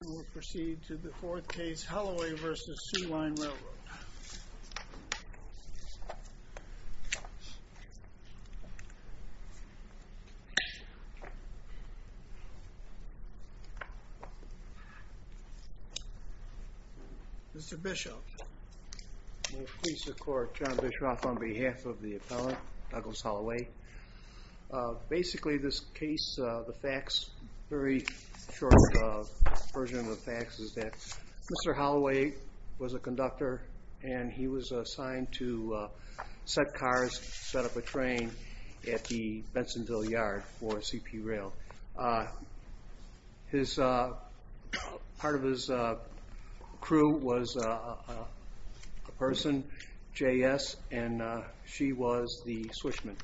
We will proceed to the fourth case, Holloway v. Soo Line Railroad. Mr. Bishop. May it please the court, John Bishop on behalf of the appellant, Douglas Holloway. Basically this case, the facts, very short version of the facts is that Mr. Holloway was a conductor and he was assigned to set cars, set up a train at the Bensonville Yard for CP Rail. Part of his crew was a person, J.S., and she was the swishman.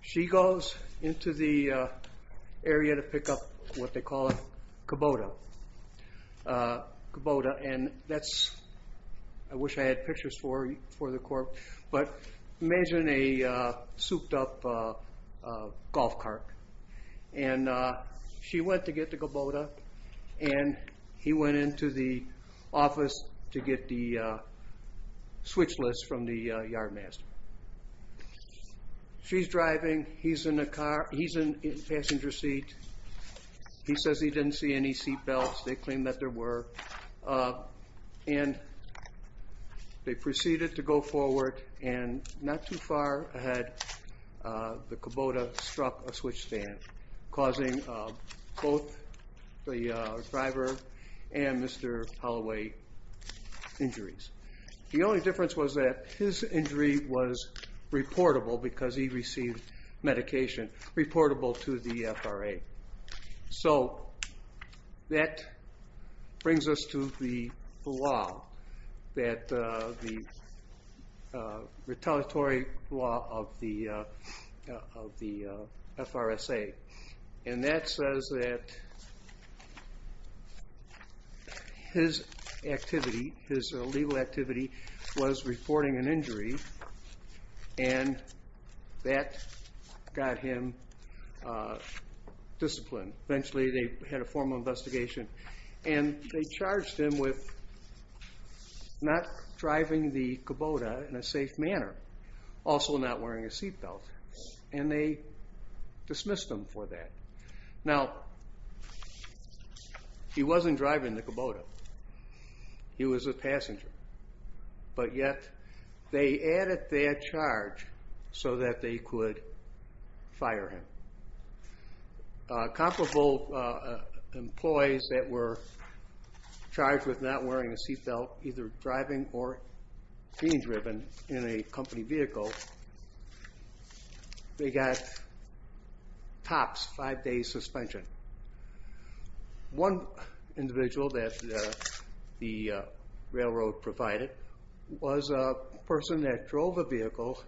She goes into the area to pick up what they call a Kubota. I wish I had pictures for the court, but imagine a souped up golf cart. She went to get the Kubota and he went into the office to get the switch list from the yardmaster. She's driving, he's in the passenger seat. He says he didn't see any seat belts. They claim that there were. And they proceeded to go forward and not too far ahead, the Kubota struck a switch stand, causing both the driver and Mr. Holloway injuries. The only difference was that his injury was reportable because he received medication, reportable to the FRA. So that brings us to the law, the retaliatory law of the FRSA. And that says that his activity, his illegal activity was reporting an injury and that got him disciplined. Eventually they had a formal investigation and they charged him with not driving the Kubota in a safe manner, also not wearing a seat belt. And they dismissed him for that. Now, he wasn't driving the Kubota, he was a passenger. But yet they added that charge so that they could fire him. Comparable employees that were charged with not wearing a seat belt, either driving or being driven in a company vehicle, they got T.O.P.S., five day suspension. One individual that the railroad provided was a person that drove a vehicle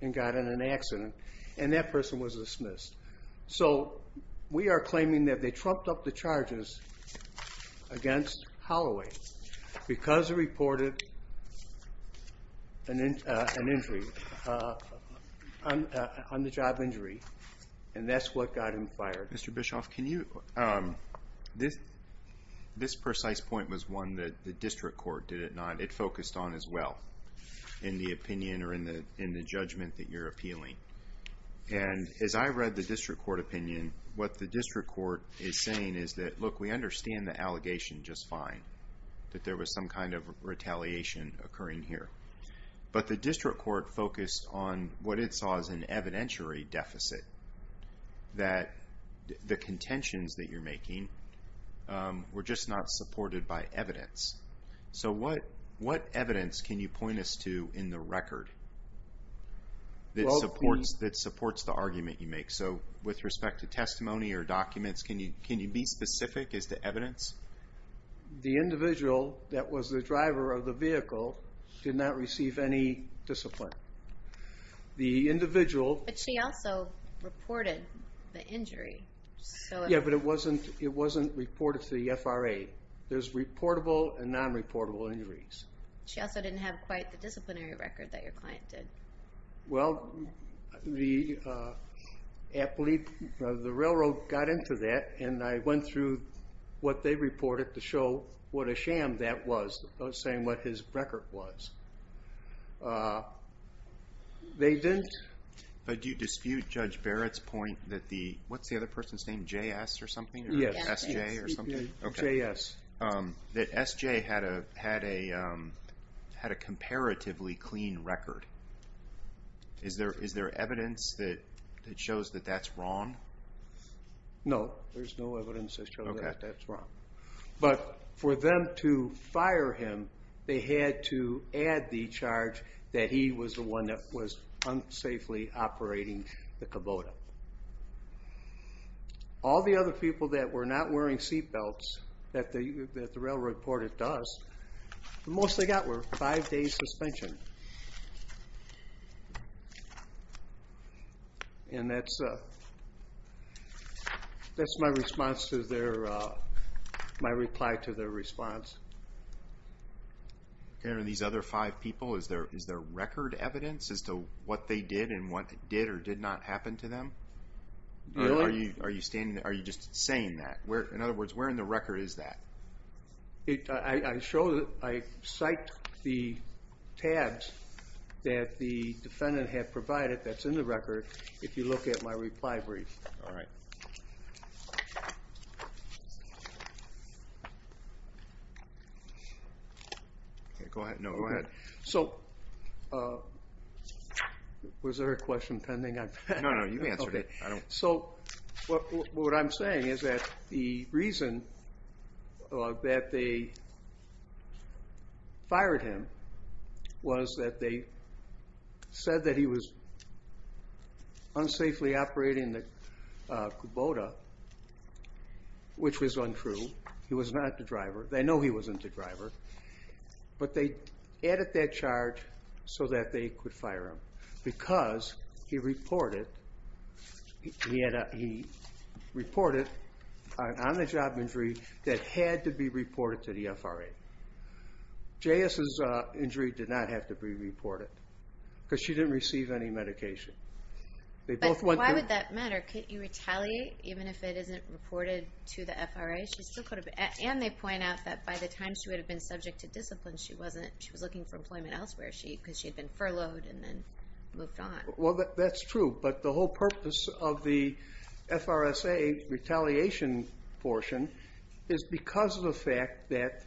and got in an accident and that person was dismissed. So we are claiming that they trumped up the charges against Holloway because he reported an injury, on the job injury. And that's what got him fired. Mr. Bischoff, can you, this precise point was one that the district court did it not, it focused on as well, in the opinion or in the judgment that you're appealing. And as I read the district court opinion, what the district court is saying is that, look, we understand the allegation just fine. That there was some kind of retaliation occurring here. But the district court focused on what it saw as an evidentiary deficit. That the contentions that you're making were just not supported by evidence. So what evidence can you point us to in the record that supports the argument you make? So with respect to testimony or documents, can you be specific as to evidence? The individual that was the driver of the vehicle did not receive any discipline. The individual... But she also reported the injury. Yeah, but it wasn't reported to the F.R.A. There's reportable and non-reportable injuries. She also didn't have quite the disciplinary record that your client did. Well, the appellee, the railroad got into that. And I went through what they reported to show what a sham that was, saying what his record was. They didn't... But do you dispute Judge Barrett's point that the, what's the other person's name, JS or something? JS. That SJ had a comparatively clean record. Is there evidence that shows that that's wrong? No, there's no evidence that shows that that's wrong. But for them to fire him, they had to add the charge that he was the one that was unsafely operating the Kubota. All the other people that were not wearing seatbelts that the railroad reported to us, the most they got were five days suspension. And that's my response to their, my reply to their response. And these other five people, is there record evidence as to what they did and what did or did not happen to them? Are you just saying that? In other words, where in the record is that? I show, I cite the tabs that the defendant had provided that's in the record if you look at my reply brief. All right. Go ahead. No, go ahead. So, was there a question pending? No, no, you answered it. Okay. So, what I'm saying is that the reason that they fired him was that they said that he was unsafely operating the Kubota, which was untrue. He was not the driver. They know he wasn't the driver. But they added that charge so that they could fire him. Because he reported, he reported an on-the-job injury that had to be reported to the FRA. J.S.'s injury did not have to be reported because she didn't receive any medication. But why would that matter? Could you retaliate even if it isn't reported to the FRA? And they point out that by the time she would have been subject to discipline, she was looking for employment elsewhere because she had been furloughed and then moved on. Well, that's true. But the whole purpose of the FRSA retaliation portion is because of the fact that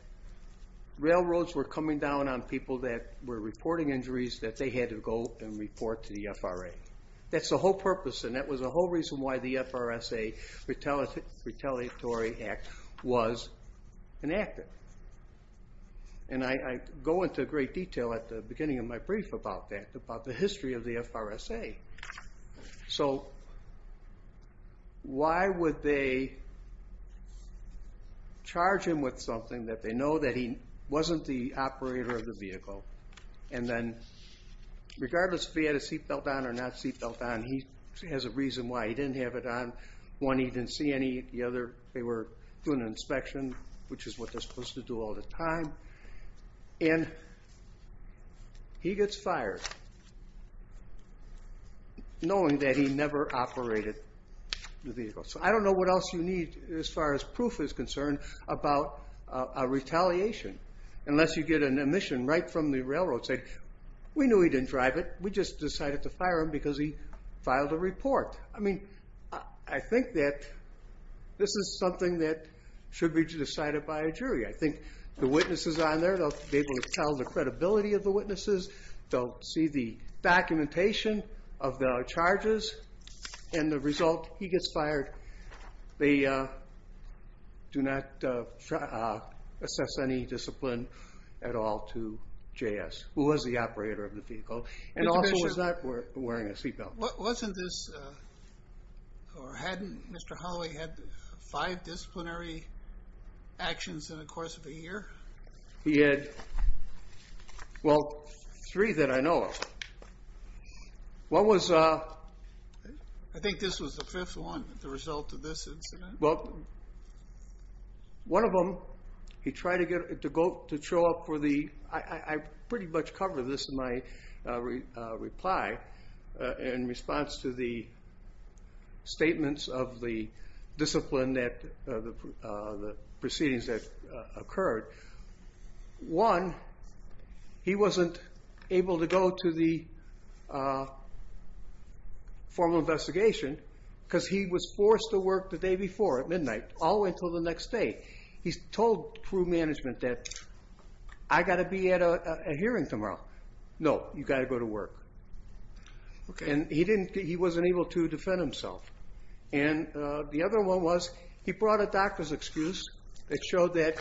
railroads were coming down on people that were reporting injuries that they had to go and report to the FRA. That's the whole purpose, and that was the whole reason why the FRSA Retaliatory Act was enacted. And I go into great detail at the beginning of my brief about that, about the history of the FRSA. So why would they charge him with something that they know that he wasn't the operator of the vehicle? And then regardless if he had a seatbelt on or not seatbelt on, he has a reason why he didn't have it on. One, he didn't see any. The other, they were doing an inspection, which is what they're supposed to do all the time. And he gets fired knowing that he never operated the vehicle. So I don't know what else you need as far as proof is concerned about a retaliation unless you get an admission right from the railroad saying, we knew he didn't drive it, we just decided to fire him because he filed a report. I mean, I think that this is something that should be decided by a jury. I think the witnesses on there, they'll be able to tell the credibility of the witnesses, they'll see the documentation of the charges, and the result, he gets fired. They do not assess any discipline at all to JS, who was the operator of the vehicle, and also was not wearing a seatbelt. Wasn't this, or hadn't Mr. Holloway had five disciplinary actions in the course of a year? He had, well, three that I know of. One was... I think this was the fifth one, the result of this incident. Well, one of them, he tried to show up for the, I pretty much covered this in my reply, in response to the statements of the discipline that, the proceedings that occurred. One, he wasn't able to go to the formal investigation because he was forced to work the day before at midnight, all the way until the next day. He told crew management that, I've got to be at a hearing tomorrow. No, you've got to go to work. And he wasn't able to defend himself. And the other one was, he brought a doctor's excuse that showed that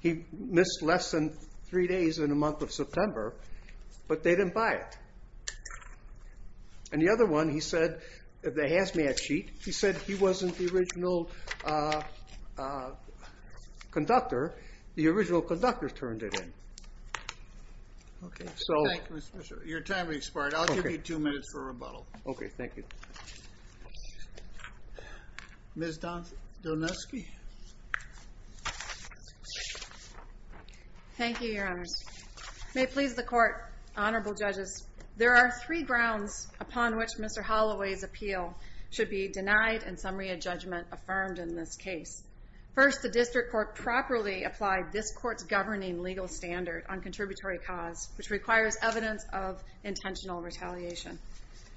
he missed less than three days in the month of September, but they didn't buy it. And the other one, he said, the hazmat sheet, he said he wasn't the original conductor. The original conductor turned it in. Thank you, Mr. Fisher. Your time has expired. I'll give you two minutes for rebuttal. Okay, thank you. Ms. Doneski. Thank you, Your Honors. May it please the Court, Honorable Judges, there are three grounds upon which Mr. Holloway's appeal should be denied in summary of judgment affirmed in this case. First, the district court properly applied this court's governing legal standard on contributory cause, which requires evidence of intentional retaliation.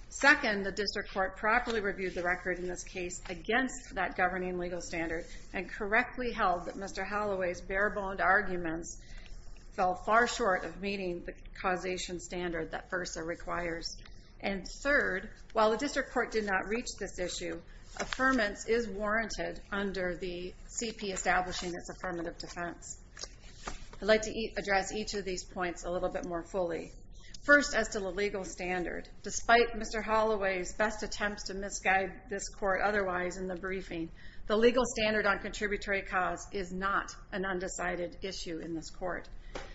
Second, the district court properly reviewed the record in this case against that governing legal standard and correctly held that Mr. Holloway's bare-boned arguments fell far short of meeting the causation standard that FERSA requires. And third, while the district court did not reach this issue, affirmance is warranted under the CP establishing its affirmative defense. I'd like to address each of these points a little bit more fully. First, as to the legal standard, despite Mr. Holloway's best attempts to misguide this court otherwise in the briefing, the legal standard on contributory cause is not an undecided issue in this court.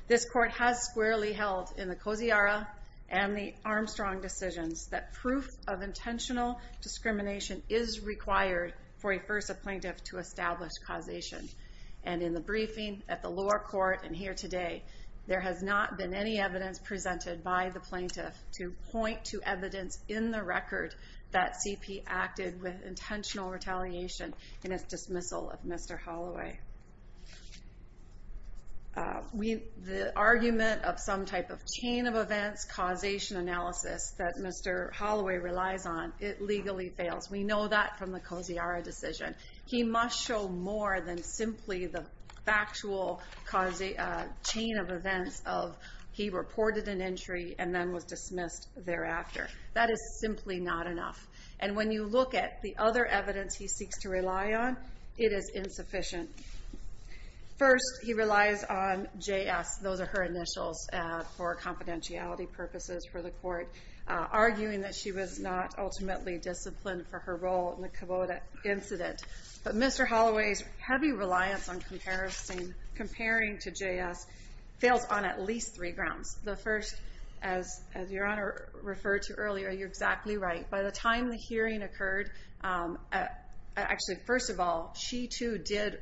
This court has squarely held in the Coziara and the Armstrong decisions that proof of intentional discrimination is required for a FERSA plaintiff to establish causation. And in the briefing, at the lower court, and here today, there has not been any evidence presented by the plaintiff to point to evidence in the record that CP acted with intentional retaliation in its dismissal of Mr. Holloway. The argument of some type of chain of events causation analysis that Mr. Holloway relies on, it legally fails. We know that from the Coziara decision. He must show more than simply the factual chain of events of he reported an injury and then was dismissed thereafter. That is simply not enough. And when you look at the other evidence he seeks to rely on, it is insufficient. First, he relies on JS, those are her initials, for confidentiality purposes for the court, arguing that she was not ultimately disciplined for her role in the Kubota incident. But Mr. Holloway's heavy reliance on comparing to JS fails on at least three grounds. The first, as Your Honor referred to earlier, you're exactly right. By the time the hearing occurred, actually, first of all, she, too, did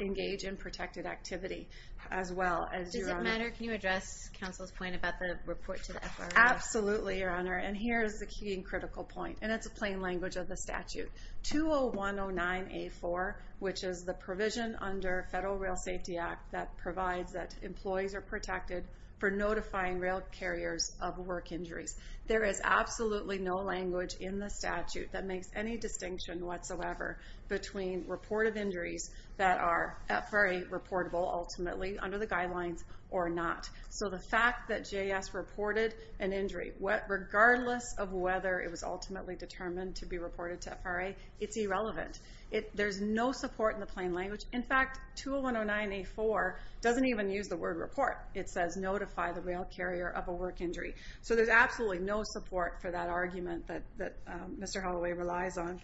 engage in protected activity as well. Does it matter? Can you address Counsel's point about the report to the FBI? Absolutely, Your Honor, and here is the key and critical point, and it's a plain language of the statute. 20109A4, which is the provision under Federal Rail Safety Act that provides that employees are protected for notifying rail carriers of work injuries. There is absolutely no language in the statute that makes any distinction whatsoever between reported injuries that are very reportable, ultimately, under the guidelines, or not. So the fact that JS reported an injury, regardless of whether it was ultimately determined to be reported to FRA, it's irrelevant. There's no support in the plain language. In fact, 20109A4 doesn't even use the word report. It says notify the rail carrier of a work injury. So there's absolutely no support for that argument that Mr. Holloway relies on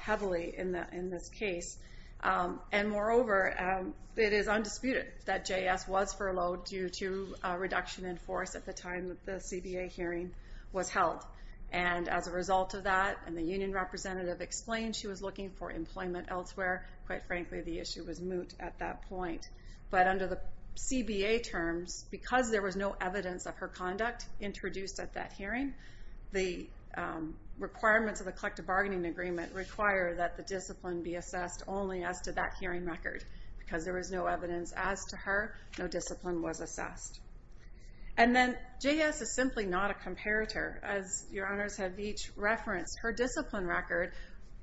heavily in this case. And moreover, it is undisputed that JS was furloughed due to reduction in force at the time that the CBA hearing was held. And as a result of that, and the union representative explained she was looking for employment elsewhere, quite frankly, the issue was moot at that point. But under the CBA terms, because there was no evidence of her conduct introduced at that hearing, the requirements of the collective bargaining agreement require that the discipline be assessed only as to that hearing record. Because there was no evidence as to her, no discipline was assessed. And then JS is simply not a comparator. As your honors have each referenced, her discipline record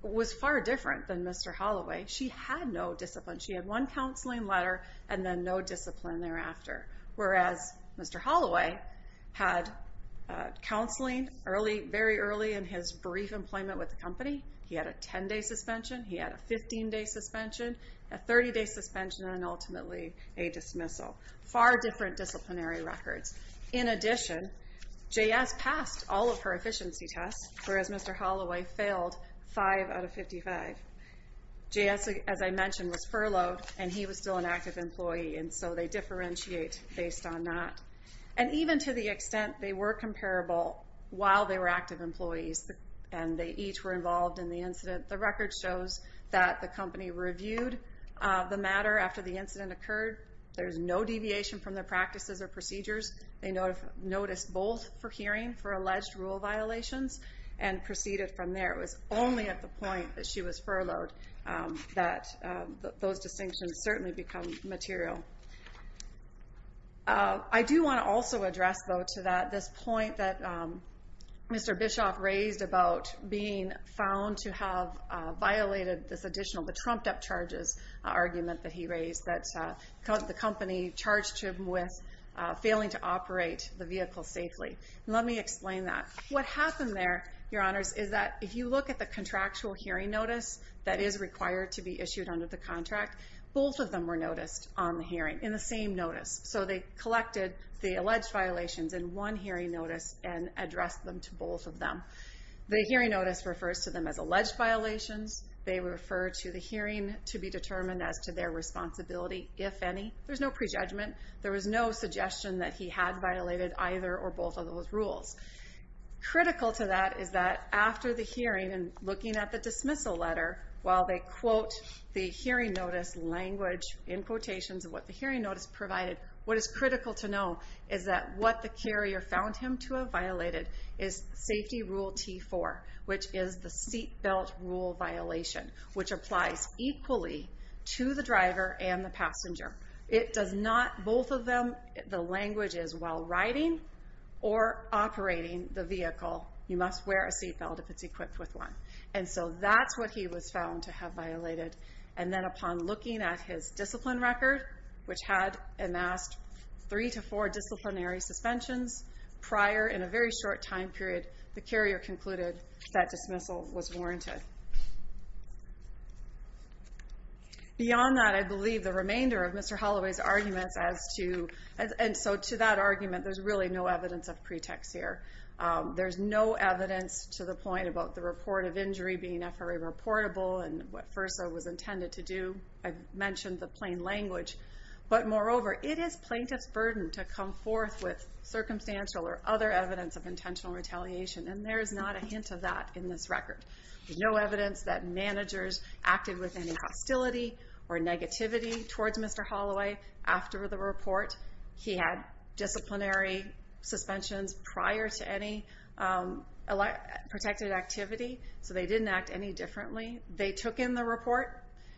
was far different than Mr. Holloway. She had no discipline. She had one counseling letter and then no discipline thereafter. Whereas Mr. Holloway had counseling very early in his brief employment with the company. He had a 10-day suspension. He had a 15-day suspension. A 30-day suspension, and ultimately a dismissal. Far different disciplinary records. In addition, JS passed all of her efficiency tests, whereas Mr. Holloway failed 5 out of 55. JS, as I mentioned, was furloughed, and he was still an active employee. And so they differentiate based on that. And even to the extent they were comparable while they were active employees, and they each were involved in the incident, the record shows that the company reviewed the matter after the incident occurred. There's no deviation from their practices or procedures. They noticed both for hearing for alleged rule violations and proceeded from there. It was only at the point that she was furloughed that those distinctions certainly become material. I do want to also address, though, to that, this point that Mr. Bischoff raised about being found to have violated this additional, the trumped-up charges argument that he raised, that the company charged him with failing to operate the vehicle safely. Let me explain that. What happened there, Your Honors, is that if you look at the contractual hearing notice that is required to be issued under the contract, both of them were noticed on the hearing in the same notice. So they collected the alleged violations in one hearing notice and addressed them to both of them. The hearing notice refers to them as alleged violations. They refer to the hearing to be determined as to their responsibility, if any. There's no prejudgment. There was no suggestion that he had violated either or both of those rules. Critical to that is that after the hearing, and looking at the dismissal letter, while they quote the hearing notice language in quotations of what the hearing notice provided, what is critical to know is that what the carrier found him to have violated is Safety Rule T4, which is the seat belt rule violation, which applies equally to the driver and the passenger. It does not, both of them, the language is, while riding or operating the vehicle, you must wear a seat belt if it's equipped with one. And so that's what he was found to have violated. And then upon looking at his discipline record, which had amassed three to four disciplinary suspensions, prior, in a very short time period, the carrier concluded that dismissal was warranted. Beyond that, I believe the remainder of Mr. Holloway's arguments as to, and so to that argument, there's really no evidence of pretext here. There's no evidence to the point about the report of injury being FRA reportable and what further was intended to do. I mentioned the plain language. But moreover, it is plaintiff's burden to come forth with circumstantial or other evidence of intentional retaliation, and there is not a hint of that in this record. There's no evidence that managers acted with any hostility or negativity towards Mr. Holloway after the report. He had disciplinary suspensions prior to any protected activity, so they didn't act any differently. They took in the report.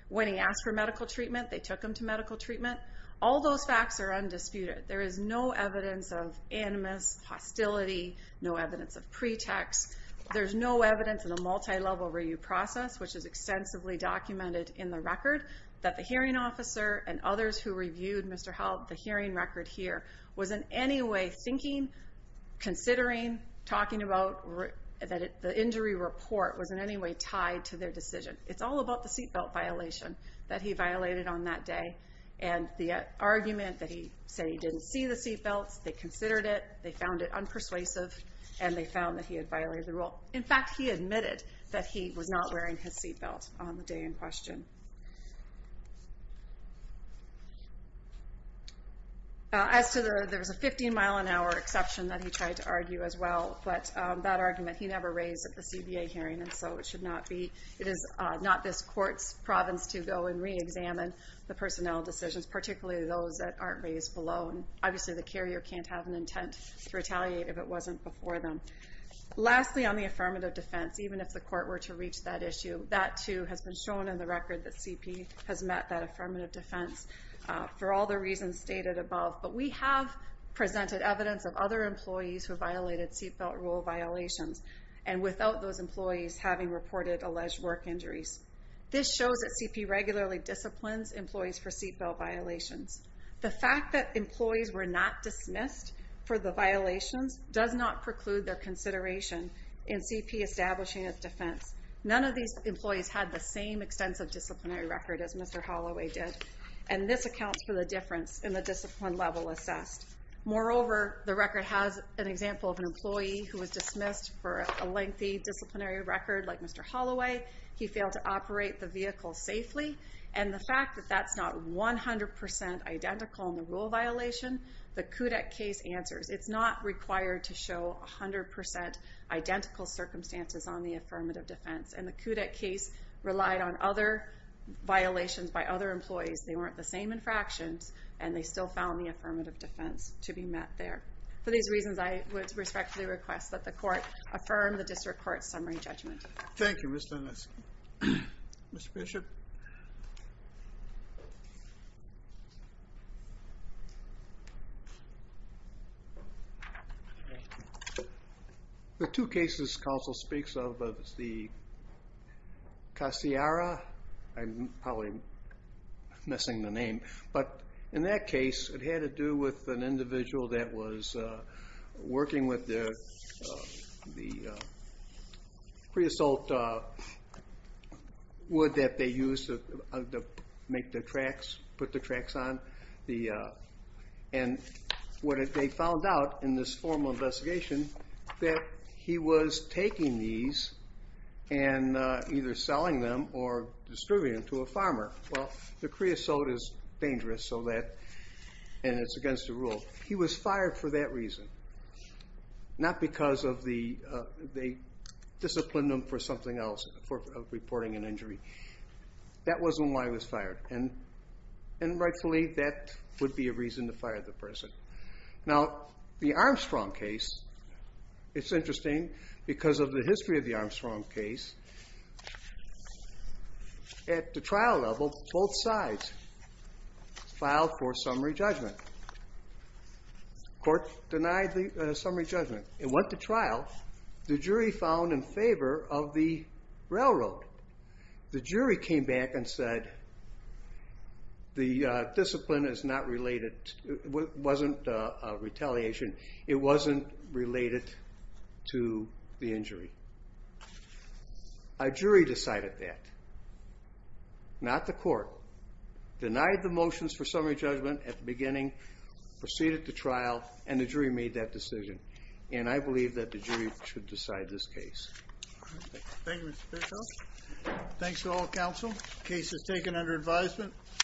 When he asked for medical treatment, they took him to medical treatment. All those facts are undisputed. There is no evidence of animus, hostility, no evidence of pretext. There's no evidence in a multilevel review process, which is extensively documented in the record, that the hearing officer and others who reviewed, Mr. Held, the hearing record here was in any way thinking, considering, talking about that the injury report was in any way tied to their decision. It's all about the seatbelt violation that he violated on that day, and the argument that he said he didn't see the seatbelts, they considered it, they found it unpersuasive, and they found that he had violated the rule. In fact, he admitted that he was not wearing his seatbelt on the day in question. As to the, there was a 15 mile an hour exception that he tried to argue as well, but that argument he never raised at the CBA hearing, and so it should not be, it is not this court's province to go and re-examine the personnel decisions, particularly those that aren't raised below, and obviously the carrier can't have an intent to retaliate if it wasn't before them. Lastly, on the affirmative defense, even if the court were to reach that issue, that too has been shown in the record that CP has met that affirmative defense for all the reasons stated above, but we have presented evidence of other employees who violated seatbelt rule violations, and without those employees having reported alleged work injuries. This shows that CP regularly disciplines employees for seatbelt violations. The fact that employees were not dismissed for the violations does not preclude their consideration in CP establishing its defense. None of these employees had the same extensive disciplinary record as Mr. Holloway did, and this accounts for the difference in the discipline level assessed. Moreover, the record has an example of an employee who was dismissed for a lengthy disciplinary record like Mr. Holloway. He failed to operate the vehicle safely, and the fact that that's not 100% identical in the rule violation, the KUDEC case answers. It's not required to show 100% identical circumstances on the affirmative defense, and the KUDEC case relied on other violations by other employees. They weren't the same infractions, and they still found the affirmative defense to be met there. For these reasons, I would respectfully request that the court affirm the district court's summary judgment. Thank you, Ms. Doneski. Mr. Bishop? The two cases counsel speaks of is the Casiara. I'm probably missing the name, but in that case, it had to do with an individual that was working with the pre-assault wood that they used to make the tracks, put the tracks on. They found out in this formal investigation that he was taking these and either selling them or distributing them to a farmer. Well, the pre-assault is dangerous, and it's against the rule. He was fired for that reason, not because they disciplined him for something else, for reporting an injury. That wasn't why he was fired. Rightfully, that would be a reason to fire the person. Now, the Armstrong case, it's interesting because of the history of the Armstrong case. At the trial level, both sides filed for summary judgment. The court denied the summary judgment. It went to trial. The jury found in favor of the railroad. The jury came back and said the discipline is not related. It wasn't retaliation. It wasn't related to the injury. A jury decided that, not the court. Denied the motions for summary judgment at the beginning, proceeded to trial, and the jury made that decision. I believe that the jury should decide this case. Thank you, Mr. Piercio. Thanks to all counsel. Case is taken under advisement.